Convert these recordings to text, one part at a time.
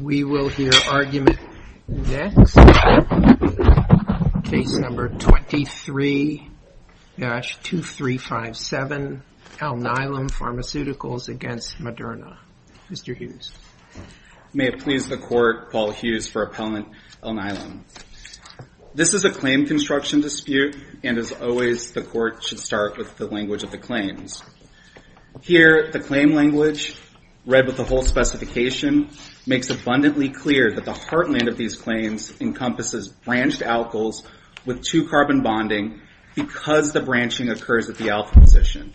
We will hear argument next. Case number 23-2357, Alnylam Pharmaceuticals v. Moderna. Mr. Hughes. May it please the Court, Paul Hughes for Appellant Alnylam. This is a claim construction dispute, and as always, the Court should start with the language of the claims. Here, the claim language, read with the whole specification, makes abundantly clear that the heartland of these claims encompasses branched alkyls with two-carbon bonding because the branching occurs at the alpha position.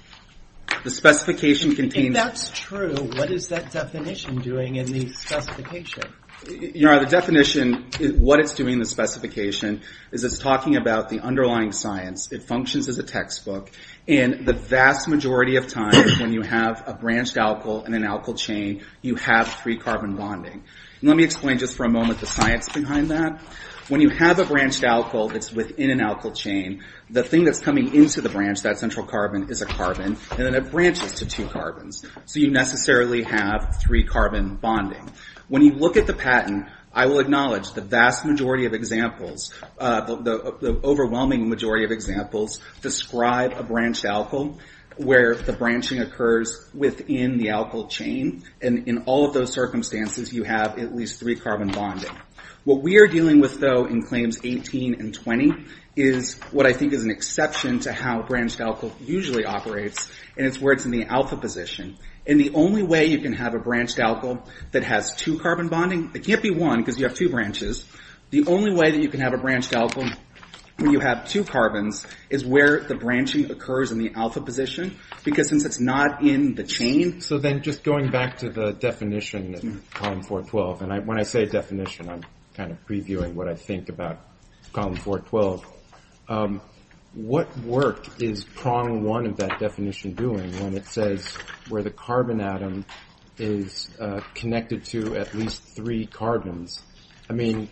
The specification contains... If that's true, what is that definition doing in the specification? Your Honor, the definition, what it's doing in the specification, is it's talking about the underlying science. It functions as a textbook, and the vast majority of times when you have a branched alkyl in an alkyl chain, you have three-carbon bonding. Let me explain just for a moment the science behind that. When you have a branched alkyl that's within an alkyl chain, the thing that's coming into the branch, that central carbon, is a carbon, and then it branches to two carbons. So you necessarily have three-carbon bonding. When you look at the patent, I will acknowledge the vast majority of examples, the overwhelming majority of examples describe a branched alkyl where the branching occurs within the alkyl chain, and in all of those circumstances, you have at least three-carbon bonding. What we are dealing with, though, in Claims 18 and 20 is what I think is an exception to how branched alkyl usually operates, and it's where it's in the alpha position. And the only way you can have a branched alkyl that has two-carbon bonding, it can't be one because you have two branches, the only way that you can have a branched alkyl where you have two carbons is where the branching occurs in the alpha position, because since it's not in the chain... So then just going back to the definition in Column 412, and when I say definition, I'm kind of previewing what I think about Column 412, what work is Prong 1 of that definition doing when it says where the carbon atom is connected to at least three carbons? I mean,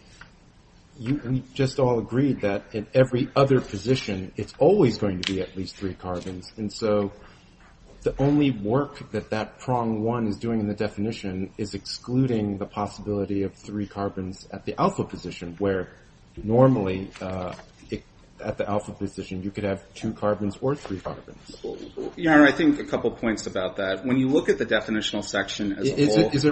we just all agreed that in every other position, it's always going to be at least three carbons, and so the only work that that Prong 1 is doing in the definition is excluding the possibility of three carbons at the alpha position, where normally at the alpha position, you could have two carbons or three carbons. Yeah, I think a couple points about that. When you look at the definitional section as a whole... What is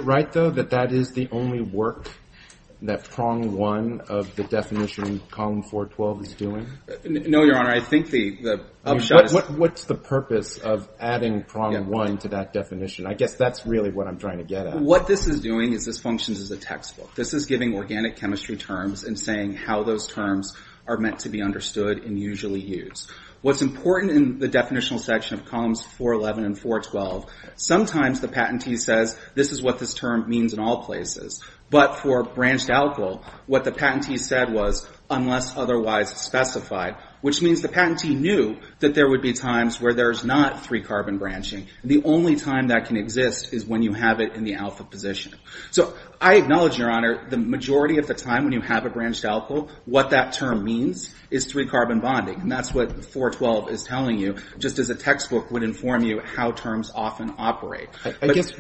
that Prong 1 of the definition Column 412 is doing? No, Your Honor, I think the upshot is... What's the purpose of adding Prong 1 to that definition? I guess that's really what I'm trying to get at. What this is doing is this functions as a textbook. This is giving organic chemistry terms and saying how those terms are meant to be understood and usually used. What's important in the definitional section of Columns 411 and 412, sometimes the patentee says this is what this term means in all places, but for branched alkyl, what the patentee said was unless otherwise specified, which means the patentee knew that there would be times where there's not three-carbon branching, and the only time that can exist is when you have it in the alpha position. So I acknowledge, Your Honor, the majority of the time when you have a branched alkyl, what that term means is three-carbon bonding, and that's what 412 is telling you, just as a textbook would inform you how terms often operate. I guess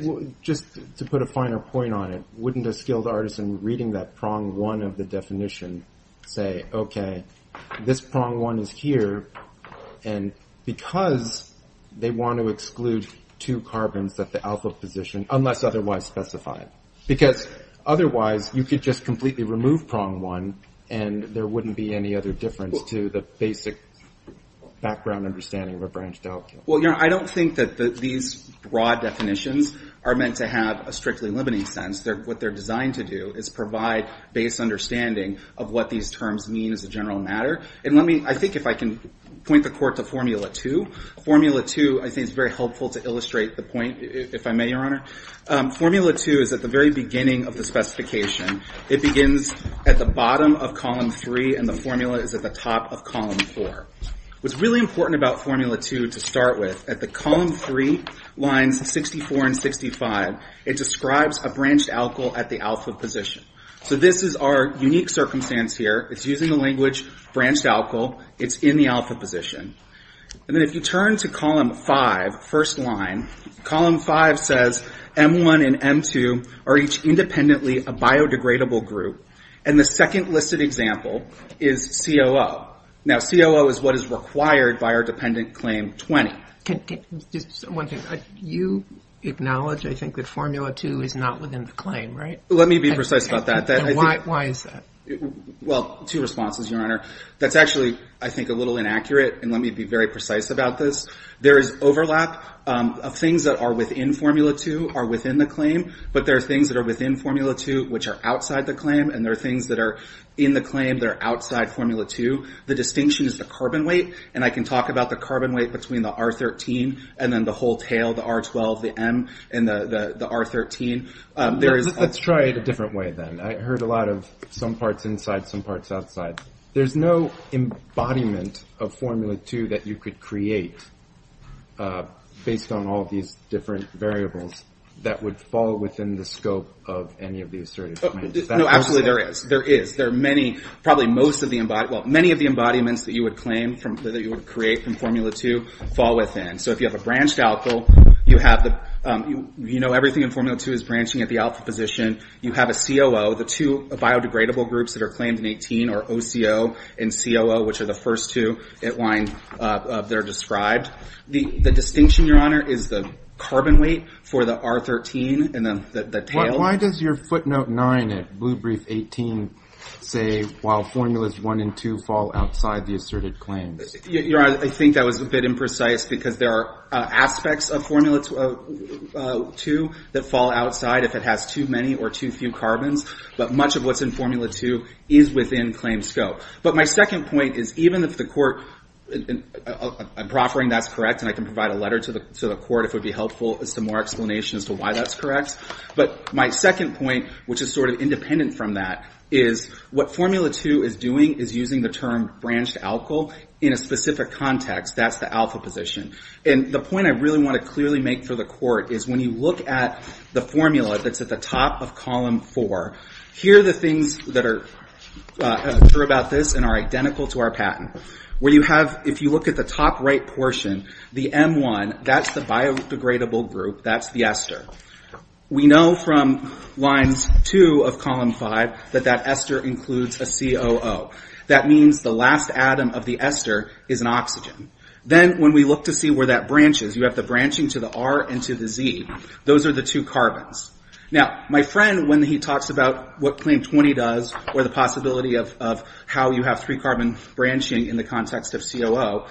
just to put a finer point on it, wouldn't a skilled artisan reading that Prong 1 of the definition say, okay, this Prong 1 is here, and because they want to exclude two carbons at the alpha position, unless otherwise specified, because otherwise you could just completely remove Prong 1, and there wouldn't be any other difference to the basic background understanding of a branched alkyl. Well, Your Honor, I don't think that these broad definitions are meant to have a strictly limiting sense. What they're designed to do is provide base understanding of what these terms mean as a general matter. And I think if I can point the court to Formula 2. Formula 2, I think, is very helpful to illustrate the point, if I may, Your Honor. Formula 2 is at the very beginning of the specification. It begins at the bottom of Column 3, and the formula is at the top of Column 4. What's really important about Formula 2 to start with, at the Column 3 lines 64 and 65, it describes a branched alkyl at the alpha position. So this is our unique circumstance here. It's using the language branched alkyl. It's in the alpha position. And then if you turn to Column 5, first line, Column 5 says M1 and M2 are each independently a biodegradable group. And the second listed example is COO. Now, COO is what is required by our dependent claim 20. One thing, you acknowledge, I think, that Formula 2 is not within the claim, right? Let me be precise about that. Why is that? Well, two responses, Your Honor. That's actually, I think, a little inaccurate, and let me be very precise about this. There is overlap of things that are within Formula 2 are within the claim, but there are things that are within Formula 2 which are outside the claim, and there are things that are in the claim that are outside Formula 2. The distinction is the carbon weight, and I can talk about the carbon weight between the R13 and then the whole tail, the R12, the M, and the R13. Let's try it a different way then. I heard a lot of some parts inside, some parts outside. There's no embodiment of Formula 2 that you could create based on all these different variables that would fall within the scope of any of these assertive claims. No, absolutely there is. There is. There are many, probably most of the, well, many of the embodiments that you would claim, that you would create in Formula 2 fall within. So if you have a branched alpha, you know everything in Formula 2 is branching at the alpha position. You have a COO. The two biodegradable groups that are claimed in 18 are OCO and COO, which are the first two that are described. The distinction, Your Honor, is the carbon weight for the R13 and the tail. Why does your footnote 9 at Blue Brief 18 say, while Formulas 1 and 2 fall outside the assertive claims? Your Honor, I think that was a bit imprecise because there are aspects of Formula 2 that fall outside if it has too many or too few carbons. But much of what's in Formula 2 is within claim scope. But my second point is even if the court, I'm proffering that's correct, and I can provide a letter to the court if it would be helpful, some more explanation as to why that's correct. But my second point, which is sort of independent from that, is what Formula 2 is doing is using the term branched alkyl in a specific context. That's the alpha position. And the point I really want to clearly make for the court is when you look at the formula that's at the top of column 4, here are the things that are true about this and are identical to our patent. If you look at the top right portion, the M1, that's the biodegradable group. That's the ester. We know from lines 2 of column 5 that that ester includes a COO. That means the last atom of the ester is an oxygen. Then when we look to see where that branches, you have the branching to the R and to the Z. Those are the two carbons. Now, my friend, when he talks about what claim 20 does or the possibility of how you have three-carbon branching in the context of COO,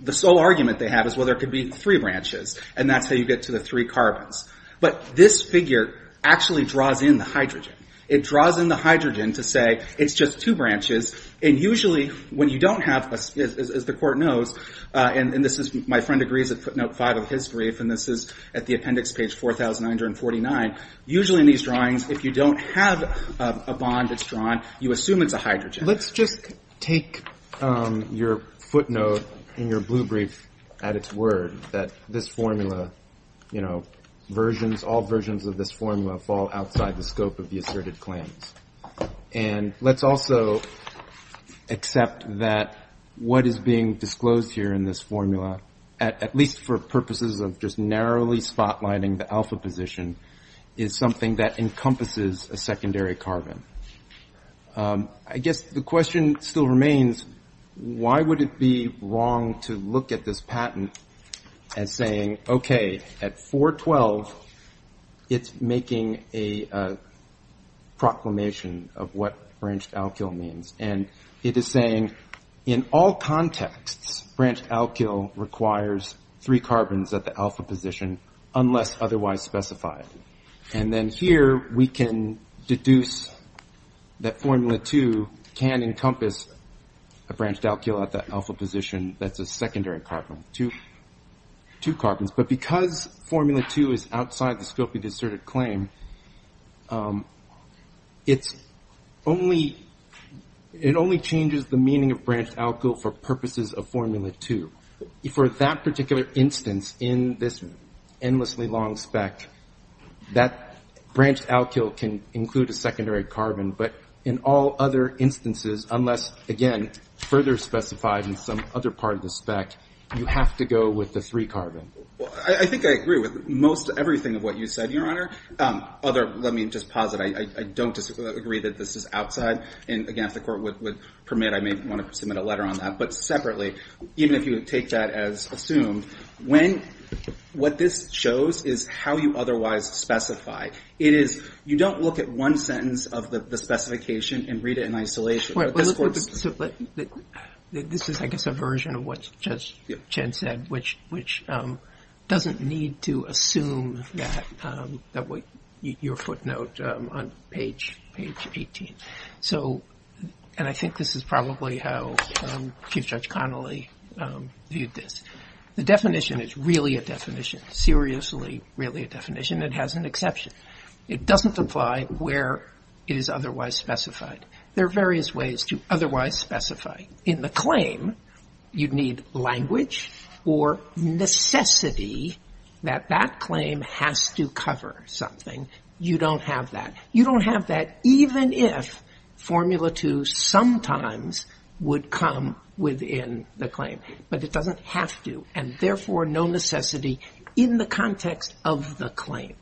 the sole argument they have is, well, there could be three branches, and that's how you get to the three carbons. But this figure actually draws in the hydrogen. It draws in the hydrogen to say it's just two branches, and usually when you don't have, as the court knows, and this is my friend agrees at footnote 5 of his brief, and this is at the appendix page 4,949, usually in these drawings if you don't have a bond that's drawn, you assume it's a hydrogen. Let's just take your footnote in your blue brief at its word, that this formula, you know, versions, all versions of this formula fall outside the scope of the asserted claims. And let's also accept that what is being disclosed here in this formula, at least for purposes of just narrowly spotlighting the alpha position, is something that encompasses a secondary carbon. I guess the question still remains, why would it be wrong to look at this patent as saying, okay, at 412 it's making a proclamation of what branched alkyl means, and it is saying in all contexts branched alkyl requires three carbons at the alpha position unless otherwise specified. And then here we can deduce that formula 2 can encompass a branched alkyl at that alpha position that's a secondary carbon, two carbons. But because formula 2 is outside the scope of the asserted claim, it only changes the meaning of branched alkyl for purposes of formula 2. For that particular instance in this endlessly long spec, that branched alkyl can include a secondary carbon, but in all other instances unless, again, further specified in some other part of the spec, you have to go with the three carbon. Well, I think I agree with most everything of what you said, Your Honor. Other, let me just posit, I don't disagree that this is outside. And again, if the Court would permit, I may want to submit a letter on that. But separately, even if you would take that as assumed, what this shows is how you otherwise specify. It is you don't look at one sentence of the specification and read it in isolation. This is, I guess, a version of what Judge Chen said, which doesn't need to assume your footnote on page 18. And I think this is probably how Chief Judge Connolly viewed this. The definition is really a definition, seriously really a definition. It has an exception. It doesn't apply where it is otherwise specified. There are various ways to otherwise specify. In the claim, you'd need language or necessity that that claim has to cover something. You don't have that. You don't have that even if Formula 2 sometimes would come within the claim. But it doesn't have to, and therefore no necessity in the context of the claim.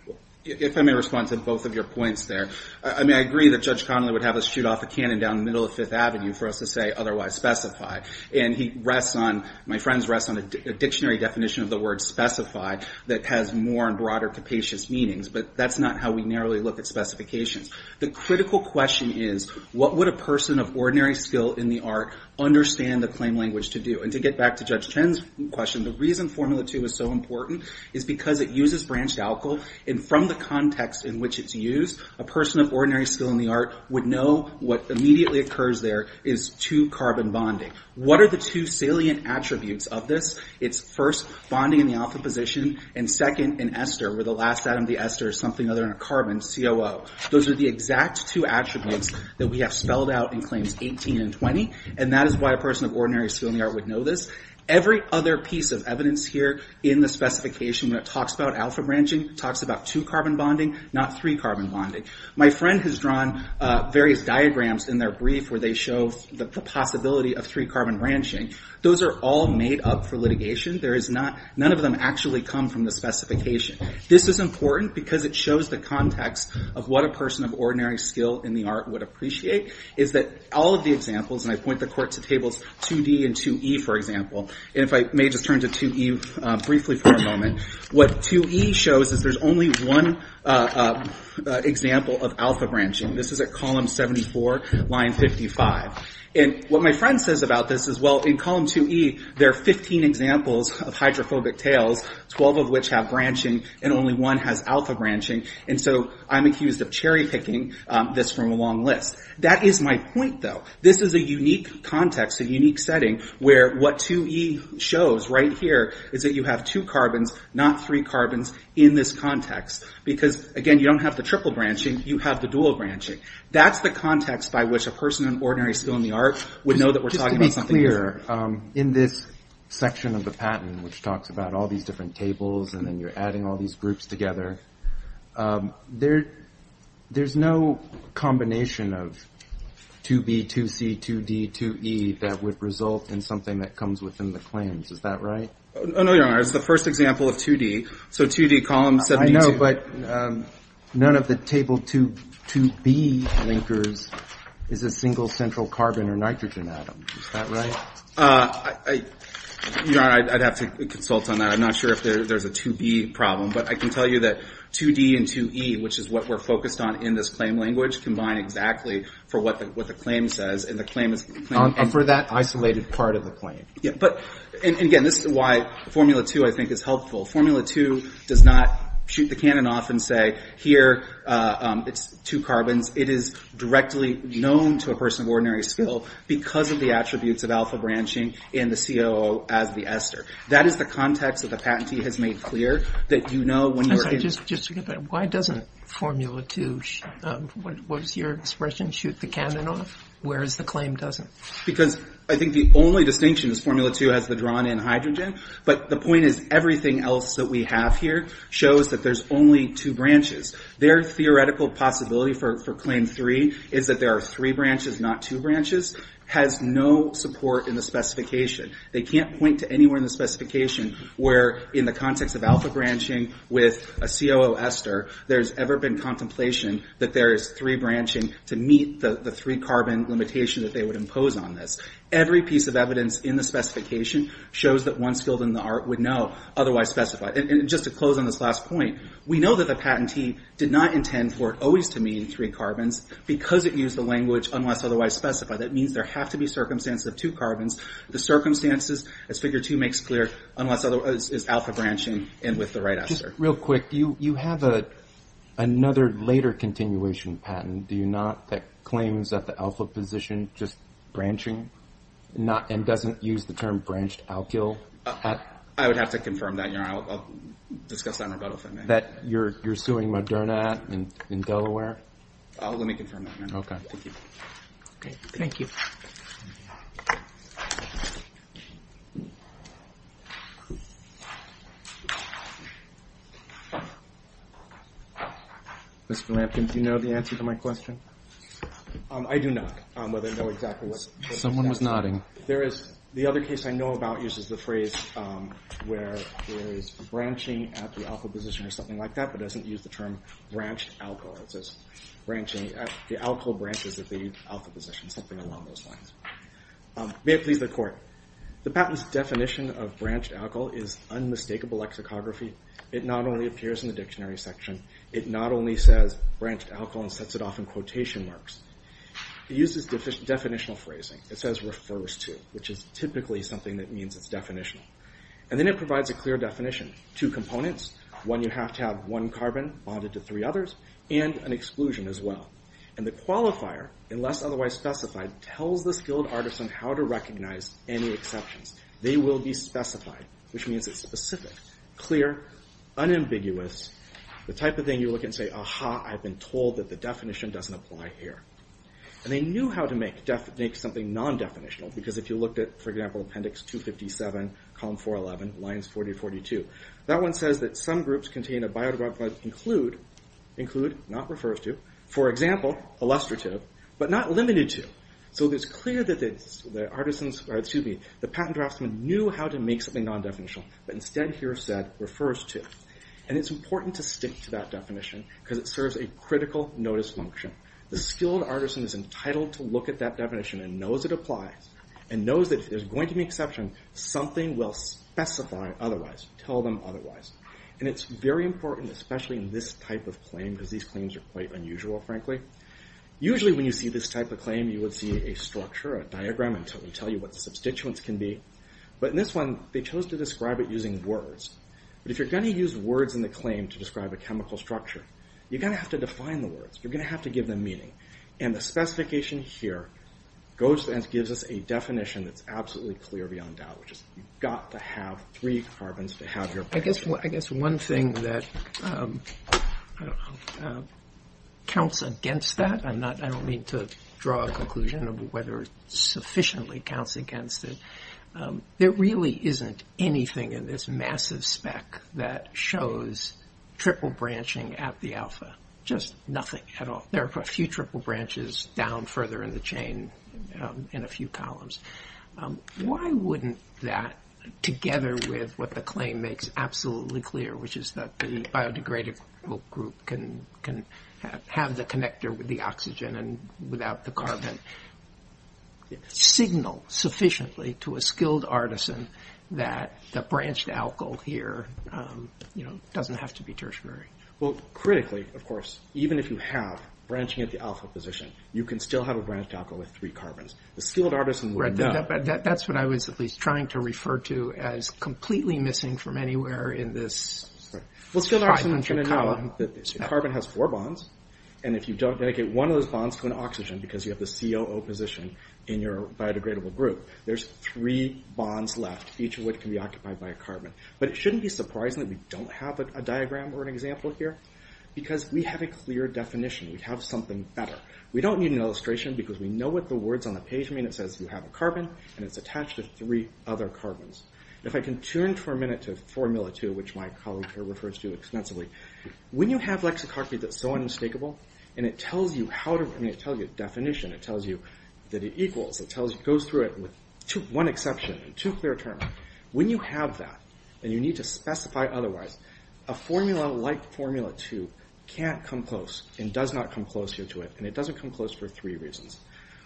If I may respond to both of your points there. I mean, I agree that Judge Connolly would have us shoot off a cannon down the middle of Fifth Avenue for us to say otherwise specified. And he rests on, my friends rest on a dictionary definition of the word specified that has more and broader capacious meanings. But that's not how we narrowly look at specifications. The critical question is, what would a person of ordinary skill in the art understand the claim language to do? And to get back to Judge Chen's question, the reason Formula 2 is so important is because it uses branched alcohol. And from the context in which it's used, a person of ordinary skill in the art would know what immediately occurs there is two carbon bonding. What are the two salient attributes of this? It's first, bonding in the alpha position. And second, an ester, where the last atom of the ester is something other than a carbon, COO. Those are the exact two attributes that we have spelled out in claims 18 and 20. And that is why a person of ordinary skill in the art would know this. Every other piece of evidence here in the specification that talks about alpha branching talks about two carbon bonding, not three carbon bonding. My friend has drawn various diagrams in their brief where they show the possibility of three carbon branching. Those are all made up for litigation. None of them actually come from the specification. This is important because it shows the context of what a person of ordinary skill in the art would appreciate. All of the examples, and I point the court to tables 2D and 2E, for example. And if I may just turn to 2E briefly for a moment. What 2E shows is there's only one example of alpha branching. This is at column 74, line 55. And what my friend says about this is, well, in column 2E, there are 15 examples of hydrophobic tails, 12 of which have branching, and only one has alpha branching. And so I'm accused of cherry-picking this from a long list. That is my point, though. This is a unique context, a unique setting, where what 2E shows right here is that you have two carbons, not three carbons, in this context. Because, again, you don't have the triple branching. You have the dual branching. That's the context by which a person of ordinary skill in the art would know that we're talking about something else. Just to be clear, in this section of the patent, which talks about all these different tables and then you're adding all these groups together, there's no combination of 2B, 2C, 2D, 2E, that would result in something that comes within the claims. Is that right? No, Your Honor. It's the first example of 2D. So 2D, column 72. I know, but none of the table 2B linkers is a single central carbon or nitrogen atom. Is that right? Your Honor, I'd have to consult on that. I'm not sure if there's a 2B problem, but I can tell you that 2D and 2E, which is what we're focused on in this claim language, combine exactly for what the claim says. And the claim is... And for that isolated part of the claim. But, again, this is why Formula 2, I think, is helpful. Formula 2 does not shoot the cannon off and say, here, it's two carbons. It is directly known to a person of ordinary skill because of the attributes of alpha branching and the COO as the ester. That is the context that the patentee has made clear, that you know when you're in... Why doesn't Formula 2, what was your expression, shoot the cannon off, whereas the claim doesn't? Because I think the only distinction is Formula 2 has the drawn-in hydrogen, but the point is everything else that we have here shows that there's only two branches. Their theoretical possibility for Claim 3 is that there are three branches, not two branches, has no support in the specification. They can't point to anywhere in the specification where, in the context of alpha branching with a COO ester, there's ever been contemplation that there is three branching to meet the three-carbon limitation that they would impose on this. Every piece of evidence in the specification shows that one skilled in the art would know, otherwise specified. Just to close on this last point, we know that the patentee did not intend for it always to meet three carbons because it used the language, unless otherwise specified. That means there have to be circumstances of two carbons. The circumstances, as Figure 2 makes clear, is alpha branching and with the right ester. Real quick, you have another later continuation patent, do you not, that claims that the alpha position just branching and doesn't use the term branched alkyl? I would have to confirm that, Your Honor. I'll discuss that in rebuttal if I may. That you're suing Moderna in Delaware? Let me confirm that, Your Honor. Okay, thank you. Thank you. Mr. Lampkin, do you know the answer to my question? I do not, but I know exactly what's in there. Someone was nodding. The other case I know about uses the phrase where there is branching at the alpha position or something like that, but doesn't use the term branched alkyl. It says the alkyl branches at the alpha position, something along those lines. May it please the Court, the patent's definition of branched alkyl is unmistakable lexicography. It not only appears in the dictionary section, it not only says branched alkyl and sets it off in quotation marks. It uses definitional phrasing. It says refers to, which is typically something that means it's definitional. And then it provides a clear definition. Two components, one you have to have one carbon bonded to three others, and an exclusion as well. And the qualifier, unless otherwise specified, tells the skilled artisan how to recognize any exceptions. They will be specified, which means it's specific, clear, unambiguous, the type of thing you look at and say, aha, I've been told that the definition doesn't apply here. And they knew how to make something non-definitional, because if you looked at, for example, appendix 257, column 411, lines 40 and 42, that one says that some groups contain a biodegradable include, include, not refers to, for example, illustrative, but not limited to. So it's clear that the patent draftsman knew how to make something non-definitional, but instead here said refers to. And it's important to stick to that definition, because it serves a critical notice function. The skilled artisan is entitled to look at that definition and knows it applies, and knows that if there's going to be an exception, something will specify otherwise, tell them otherwise. And it's very important, especially in this type of claim, because these claims are quite unusual, frankly. Usually when you see this type of claim, you would see a structure, a diagram, and tell you what the substituents can be. But in this one, they chose to describe it using words. But if you're going to use words in the claim to describe a chemical structure, you're going to have to define the words. You're going to have to give them meaning. And the specification here goes and gives us a definition that's absolutely clear beyond doubt, which is you've got to have three carbons to have your patent. I guess one thing that counts against that, and I don't mean to draw a conclusion of whether it sufficiently counts against it, there really isn't anything in this massive spec that shows triple branching at the alpha. Just nothing at all. There are a few triple branches down further in the chain in a few columns. Why wouldn't that, together with what the claim makes absolutely clear, which is that the biodegradable group can have the connector with the oxygen and without the carbon, signal sufficiently to a skilled artisan that the branched alkyl here doesn't have to be tertiary. Well, critically, of course, even if you have branching at the alpha position, you can still have a branched alkyl with three carbons. The skilled artisan would know. That's what I was at least trying to refer to as completely missing from anywhere in this 500 column. The skilled artisan would know that carbon has four bonds, and if you don't dedicate one of those bonds to an oxygen because you have the COO position in your biodegradable group, there's three bonds left, each of which can be occupied by a carbon. But it shouldn't be surprising that we don't have a diagram or an example here because we have a clear definition. We have something better. We don't need an illustration because we know what the words on the page mean. It says you have a carbon, and it's attached to three other carbons. If I can turn for a minute to Formula 2, which my colleague here refers to extensively, when you have lexicography that's so unmistakable, and it tells you a definition, it tells you that it equals, it goes through it with one exception and two clear terms, when you have that and you need to specify otherwise, a formula like Formula 2 can't come close and does not come closer to it, and it doesn't come close for three reasons.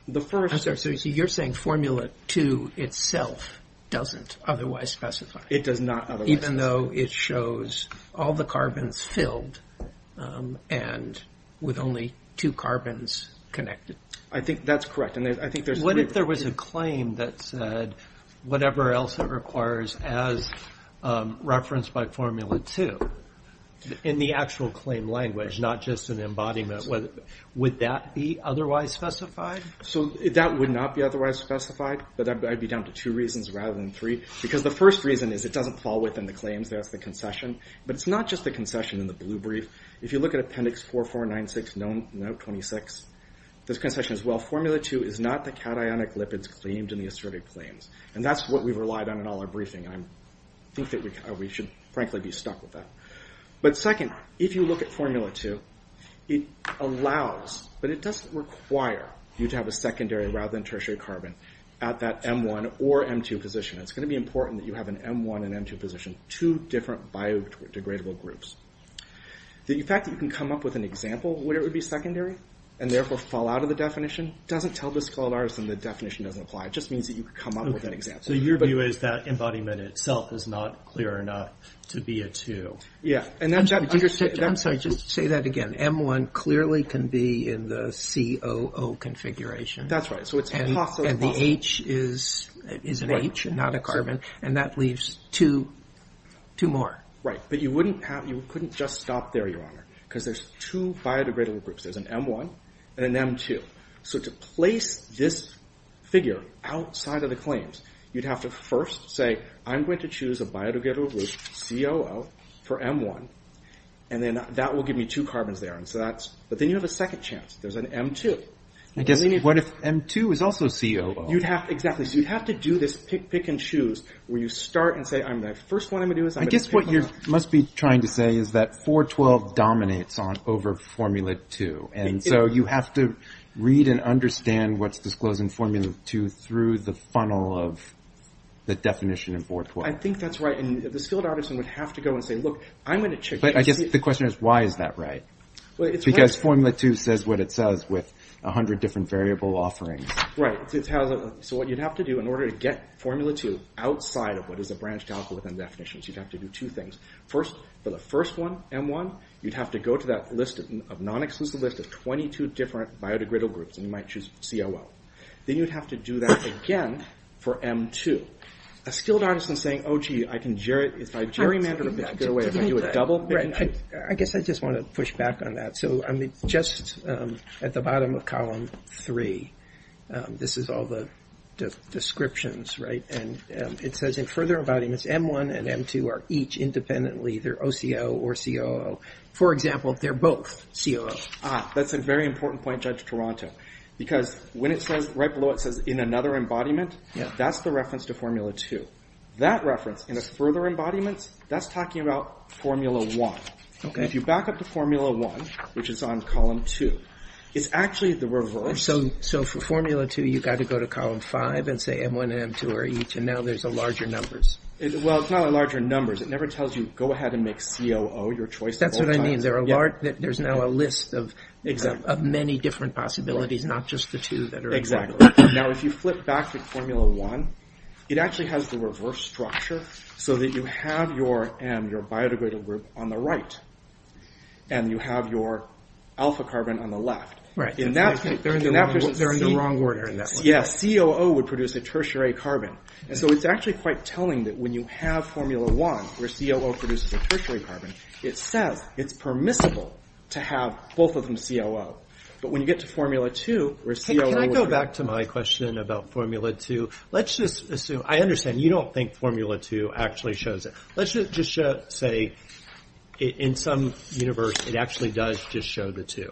I'm sorry. So you're saying Formula 2 itself doesn't otherwise specify? It does not otherwise. Even though it shows all the carbons filled and with only two carbons connected? I think that's correct. What if there was a claim that said whatever else it requires as referenced by Formula 2, in the actual claim language, not just an embodiment, would that be otherwise specified? That would not be otherwise specified, but I'd be down to two reasons rather than three, because the first reason is it doesn't fall within the claims. That's the concession. But it's not just the concession in the blue brief. If you look at Appendix 4496, note 26, there's concession as well. Formula 2 is not the cationic lipids claimed in the acerbic claims, and that's what we've relied on in all our briefing. I think that we should, frankly, be stuck with that. But second, if you look at Formula 2, it allows, but it doesn't require, you to have a secondary rather than tertiary carbon at that M1 or M2 position. It's going to be important that you have an M1 and M2 position, two different biodegradable groups. The fact that you can come up with an example where it would be secondary and, therefore, fall out of the definition doesn't tell the scald artisan the definition doesn't apply. It just means that you could come up with an example. So your view is that embodiment itself is not clear enough to be a 2. Yeah. I'm sorry, just say that again. M1 clearly can be in the COO configuration. That's right. And the H is an H and not a carbon, and that leaves two more. Right. But you couldn't just stop there, Your Honor, because there's two biodegradable groups. There's an M1 and an M2. So to place this figure outside of the claims, you'd have to first say, I'm going to choose a biodegradable group, COO, for M1, and then that will give me two carbons there. But then you have a second chance. There's an M2. I guess what if M2 is also COO? Exactly. So you'd have to do this pick, pick, and choose where you start and say, the first one I'm going to do is... I guess what you must be trying to say is that 4.12 dominates over Formula 2, and so you have to read and understand what's disclosed in Formula 2 through the funnel of the definition in 4.12. I think that's right, and the skilled artisan would have to go and say, look, I'm going to check... But I guess the question is, why is that right? Because Formula 2 says what it says with a hundred different variable offerings. Right. So what you'd have to do in order to get Formula 2 outside of what is a branched algorithm definition is you'd have to do two things. First, for the first one, M1, you'd have to go to that list of non-exclusive list of 22 different biodegradable groups, and you might choose COO. Then you'd have to do that again for M2. A skilled artisan saying, oh, gee, if I gerrymandered a bit that way, if I do a double... I guess I just want to push back on that. So, I mean, just at the bottom of column 3, this is all the descriptions, right? And it says in further environments, M1 and M2 are each independently, they're OCO or COO. For example, they're both COO. Ah, that's a very important point, Judge Toronto, because when it says... Right below it says, in another embodiment, that's the reference to Formula 2. That reference, in a further embodiment, that's talking about Formula 1. Okay. If you back up to Formula 1, which is on column 2, it's actually the reverse. So for Formula 2, you've got to go to column 5 and say M1 and M2 are each, and now there's larger numbers. Well, it's not larger numbers. It never tells you, go ahead and make COO your choice. That's what I mean. There's now a list of many different possibilities, not just the two that are... Exactly. Now, if you flip back to Formula 1, it actually has the reverse structure, so that you have your M, your biodegradable group, on the right, and you have your alpha carbon on the left. Right. They're in the wrong order in that one. Yeah, COO would produce a tertiary carbon. And so it's actually quite telling that when you have Formula 1, where COO produces a tertiary carbon, it says it's permissible to have both of them COO. But when you get to Formula 2, where COO... Hey, can I go back to my question about Formula 2? Let's just assume... I understand you don't think Formula 2 actually shows it. Let's just say, in some universe, it actually does just show the two.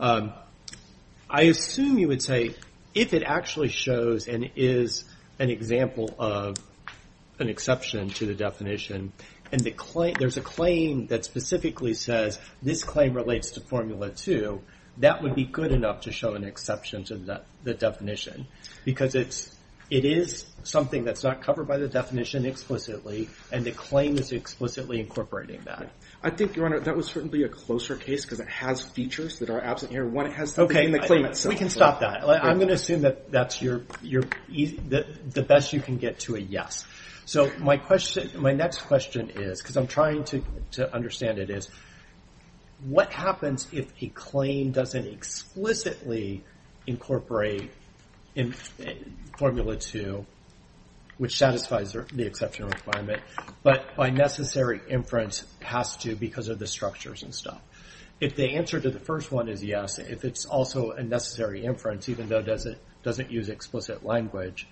I assume you would say, if it actually shows and is an example of an exception to the definition, and there's a claim that specifically says, this claim relates to Formula 2, that would be good enough to show an exception to the definition. Because it is something that's not covered by the definition explicitly, and the claim is explicitly incorporating that. I think, Your Honor, that was certainly a closer case, because it has features that are absent here. One, it has something in the claim itself. We can stop that. I'm going to assume that's the best you can get to a yes. My next question is, because I'm trying to understand it, is what happens if a claim doesn't explicitly incorporate Formula 2, which satisfies the exception requirement, but by necessary inference, has to, because of the structures and stuff. If the answer to the first one is yes, if it's also a necessary inference, even though it doesn't use explicit language,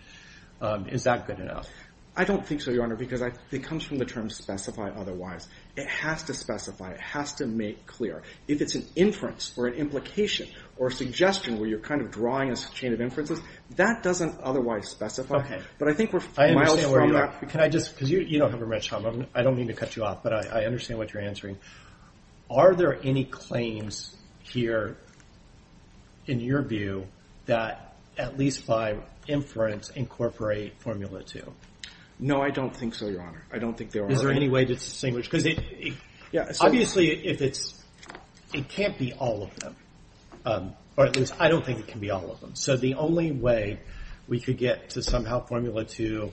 is that good enough? I don't think so, Your Honor, because it comes from the term specify otherwise. It has to specify. It has to make clear. If it's an inference or an implication or suggestion where you're kind of drawing a chain of inferences, that doesn't otherwise specify. But I think we're miles from that. Can I just, because you don't have a minute, Tom. I don't mean to cut you off, but I understand what you're answering. Are there any claims here, in your view, that at least by inference incorporate Formula 2? No, I don't think so, Your Honor. I don't think there are. Is there any way to distinguish? Obviously, it can't be all of them, or at least I don't think it can be all of them. So the only way we could get to somehow Formula 2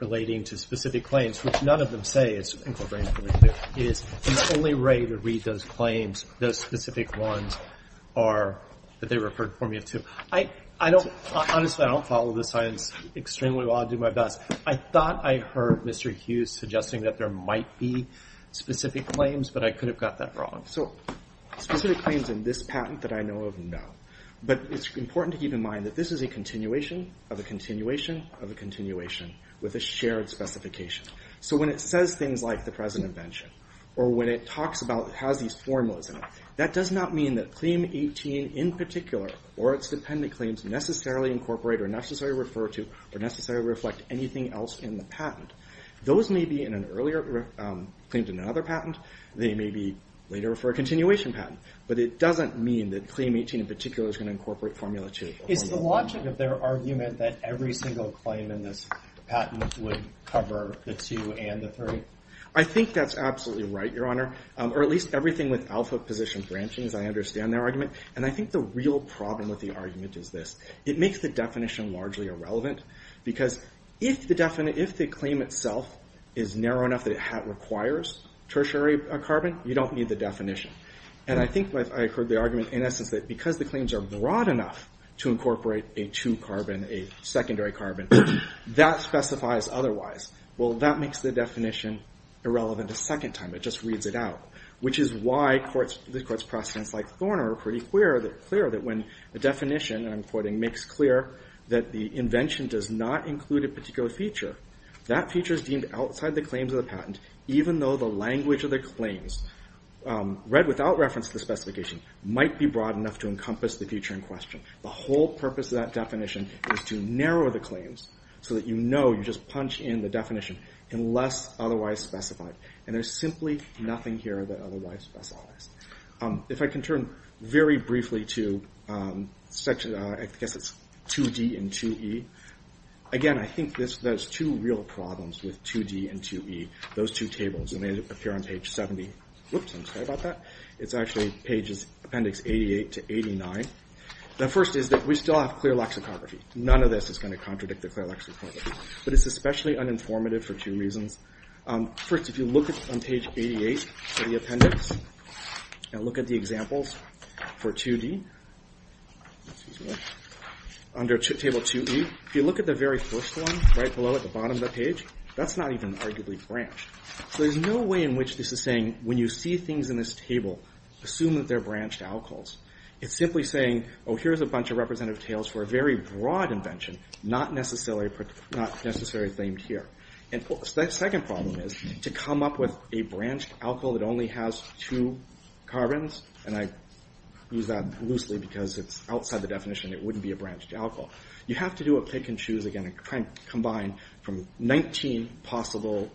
relating to specific claims, which none of them say is incorporating Formula 2, is the only way to read those claims, those specific ones that they referred Formula 2. Honestly, I don't follow this science extremely well. I do my best. I thought I heard Mr. Hughes suggesting that there might be specific claims, but I could have got that wrong. So specific claims in this patent that I know of, no. But it's important to keep in mind that this is a continuation of a continuation of a continuation with a shared specification. So when it says things like the present invention, or when it talks about, it has these formulas in it, that does not mean that Claim 18 in particular or its dependent claims necessarily incorporate or necessarily refer to or necessarily reflect anything else in the patent. Those may be in an earlier, claimed in another patent. They may be later for a continuation patent, but it doesn't mean that Claim 18 in particular is going to incorporate Formula 2. Is the logic of their argument that every single claim in this patent would cover the 2 and the 3? I think that's absolutely right, Your Honor. Or at least everything with alpha position branchings, I understand their argument. And I think the real problem with the argument is this. It makes the definition largely irrelevant because if the claim itself is narrow enough that it requires tertiary carbon, you don't need the definition. And I think I heard the argument in essence that because the claims are broad enough to incorporate a 2-carbon, a secondary carbon, that specifies otherwise. Well, that makes the definition irrelevant a second time. It just reads it out, which is why the Court's precedents like Thorner are pretty clear that when a definition, and I'm quoting, makes clear that the invention does not include a particular feature, that feature is deemed outside the claims of the patent even though the language of the claims read without reference to the specification might be broad enough to encompass the feature in question. The whole purpose of that definition is to narrow the claims so that you know you just punch in the definition unless otherwise specified. And there's simply nothing here that otherwise specifies. If I can turn very briefly to, I guess it's 2D and 2E. Again, I think there's two real problems with 2D and 2E, those two tables. And they appear on page 70. Whoops, I'm sorry about that. It's actually pages, appendix 88 to 89. The first is that we still have clear lexicography. None of this is gonna contradict the clear lexicography. But it's especially uninformative for two reasons. First, if you look on page 88 for the appendix and look at the examples for 2D, excuse me, under table 2E, if you look at the very first one right below at the bottom of the page, that's not even arguably branched. So there's no way in which this is saying when you see things in this table, assume that they're branched alcohols. It's simply saying, oh, here's a bunch of representative tails for a very broad invention, not necessarily themed here. And the second problem is to come up with a branched alcohol that only has two carbons. And I use that loosely because it's outside the definition. It wouldn't be a branched alcohol. You have to do a pick and choose again and try and combine from 19 possible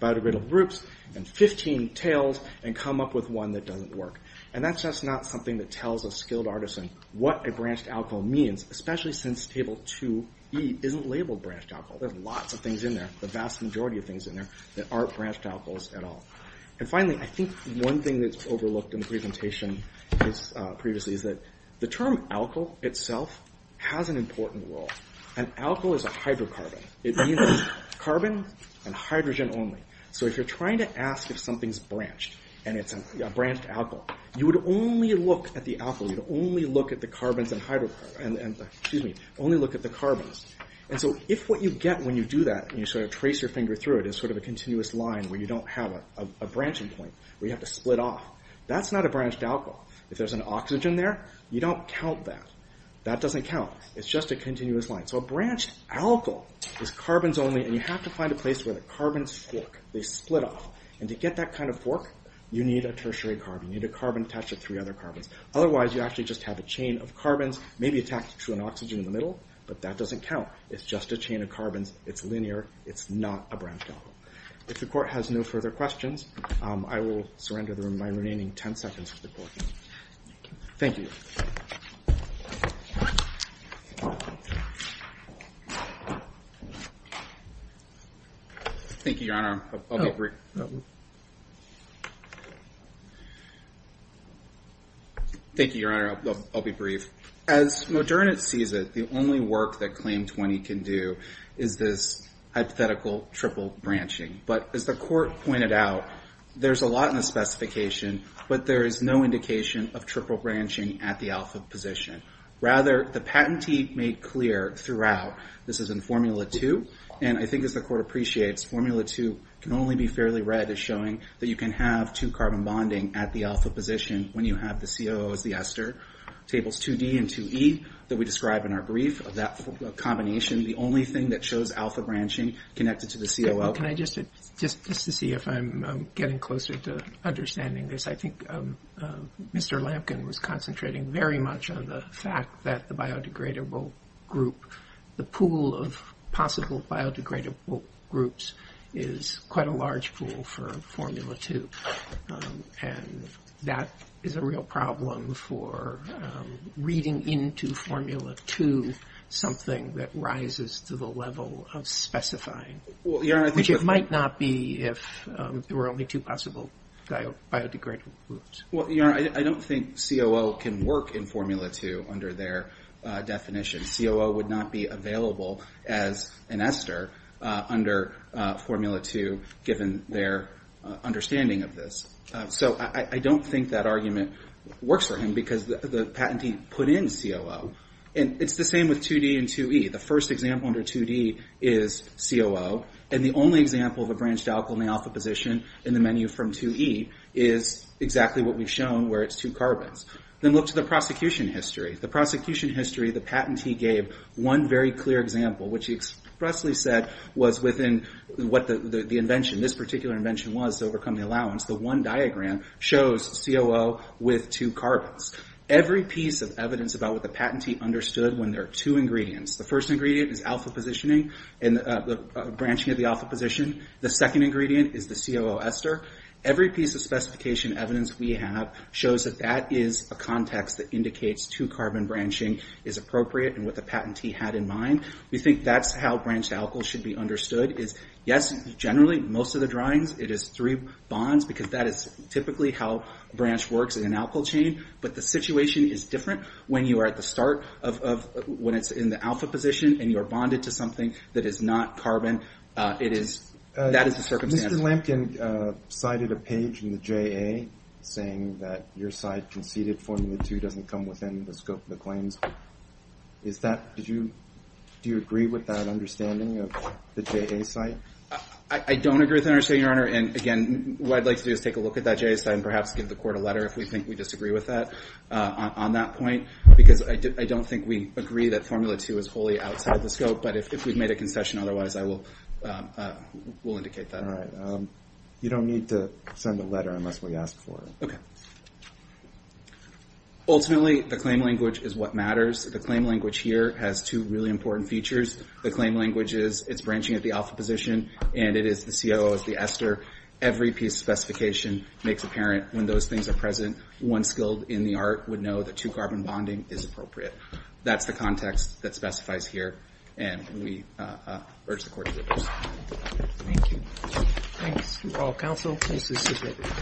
biodegradable groups and 15 tails and come up with one that doesn't work. And that's just not something that tells a skilled artisan what a branched alcohol means, especially since table 2E isn't labeled branched alcohol. There's lots of things in there, the vast majority of things in there that aren't branched alcohols at all. And finally, I think one thing that's overlooked in the presentation previously is that the term alcohol itself has an important role. An alcohol is a hydrocarbon. It means carbon and hydrogen only. So if you're trying to ask if something's branched and it's a branched alcohol, you would only look at the alcohol. You'd only look at the carbons and hydrocarbon, excuse me, only look at the carbons. And so if what you get when you do that and you sort of trace your finger through it is sort of a continuous line where you don't have a branching point where you have to split off, that's not a branched alcohol. If there's an oxygen there, you don't count that. That doesn't count. It's just a continuous line. So a branched alcohol is carbons only and you have to find a place where the carbons fork, they split off. And to get that kind of fork, you need a tertiary carbon. You need a carbon attached to three other carbons. Otherwise, you actually just have a chain of carbons maybe attached to an oxygen in the middle, but that doesn't count. It's just a chain of carbons. It's linear. It's not a branched alcohol. If the court has no further questions, I will surrender my remaining 10 seconds to the court. Thank you. Thank you, Your Honor. I'll be brief. As Moderna sees it, the only work that Claim 20 can do is this hypothetical triple branching. But as the court pointed out, there's a lot in the specification, but there is no indication of triple branching at the alpha position. Rather, the patentee made clear throughout, this is in Formula 2, and I think as the court appreciates, Formula 2 can only be fairly read as showing that you can have two carbon bonding at the alpha position when you have the COO as the ester. Tables 2D and 2E that we describe in our brief, that combination, the only thing that shows alpha branching connected to the COO. Well, can I just, just to see if I'm getting closer to understanding this, I think Mr. Lampkin was concentrating very much on the fact that the biodegradable group, the pool of possible biodegradable groups is quite a large pool for Formula 2. And that is a real problem for reading into Formula 2, something that rises to the level of specifying. Which it might not be if there were only two possible biodegradable groups. Well, Your Honor, I don't think COO can work in Formula 2 under their definition. COO would not be available as an ester under Formula 2, given their understanding of this. So I don't think that argument works for him because the patentee put in COO. And it's the same with 2D and 2E. The first example under 2D is COO. And the only example of a branched alkyl in the alpha position in the menu from 2E is exactly what we've shown where it's two carbons. Then look to the prosecution history. The prosecution history, the patentee gave one very clear example, which he expressly said was within what the invention, this particular invention was to overcome the allowance. The one diagram shows COO with two carbons. Every piece of evidence about what the patentee understood when there are two ingredients. The first ingredient is alpha positioning and the branching of the alpha position. The second ingredient is the COO ester. Every piece of specification evidence we have shows that that is a context that indicates two-carbon branching is appropriate and what the patentee had in mind. We think that's how branched alkyls should be understood. Yes, generally, most of the drawings, it is three bonds because that is typically how branch works in an alkyl chain. But the situation is different when you are at the start of, when it's in the alpha position and you are bonded to something that is not carbon. That is the circumstance. Mr. Lampkin cited a page in the JA saying that your site conceded formula two doesn't come within the scope of the claims. Is that, do you agree with that understanding of the JA site? I don't agree with that understanding, Your Honor. And again, what I'd like to do is take a look at that JA site and perhaps give the court a letter if we think we disagree with that on that point because I don't think we agree that formula two is wholly outside the scope. But if we've made a concession, otherwise I will indicate that. All right. You don't need to send a letter unless we ask for it. Okay. Ultimately, the claim language is what matters. The claim language here has two really important features. The claim language is it's branching at the alpha position and it is the COO is the ester. Every piece of specification makes apparent when those things are present. One skilled in the art would know that two carbon bonding is appropriate. That's the context that specifies here and we urge the court to approve. Thank you. Thanks to all counsel. Case is submitted.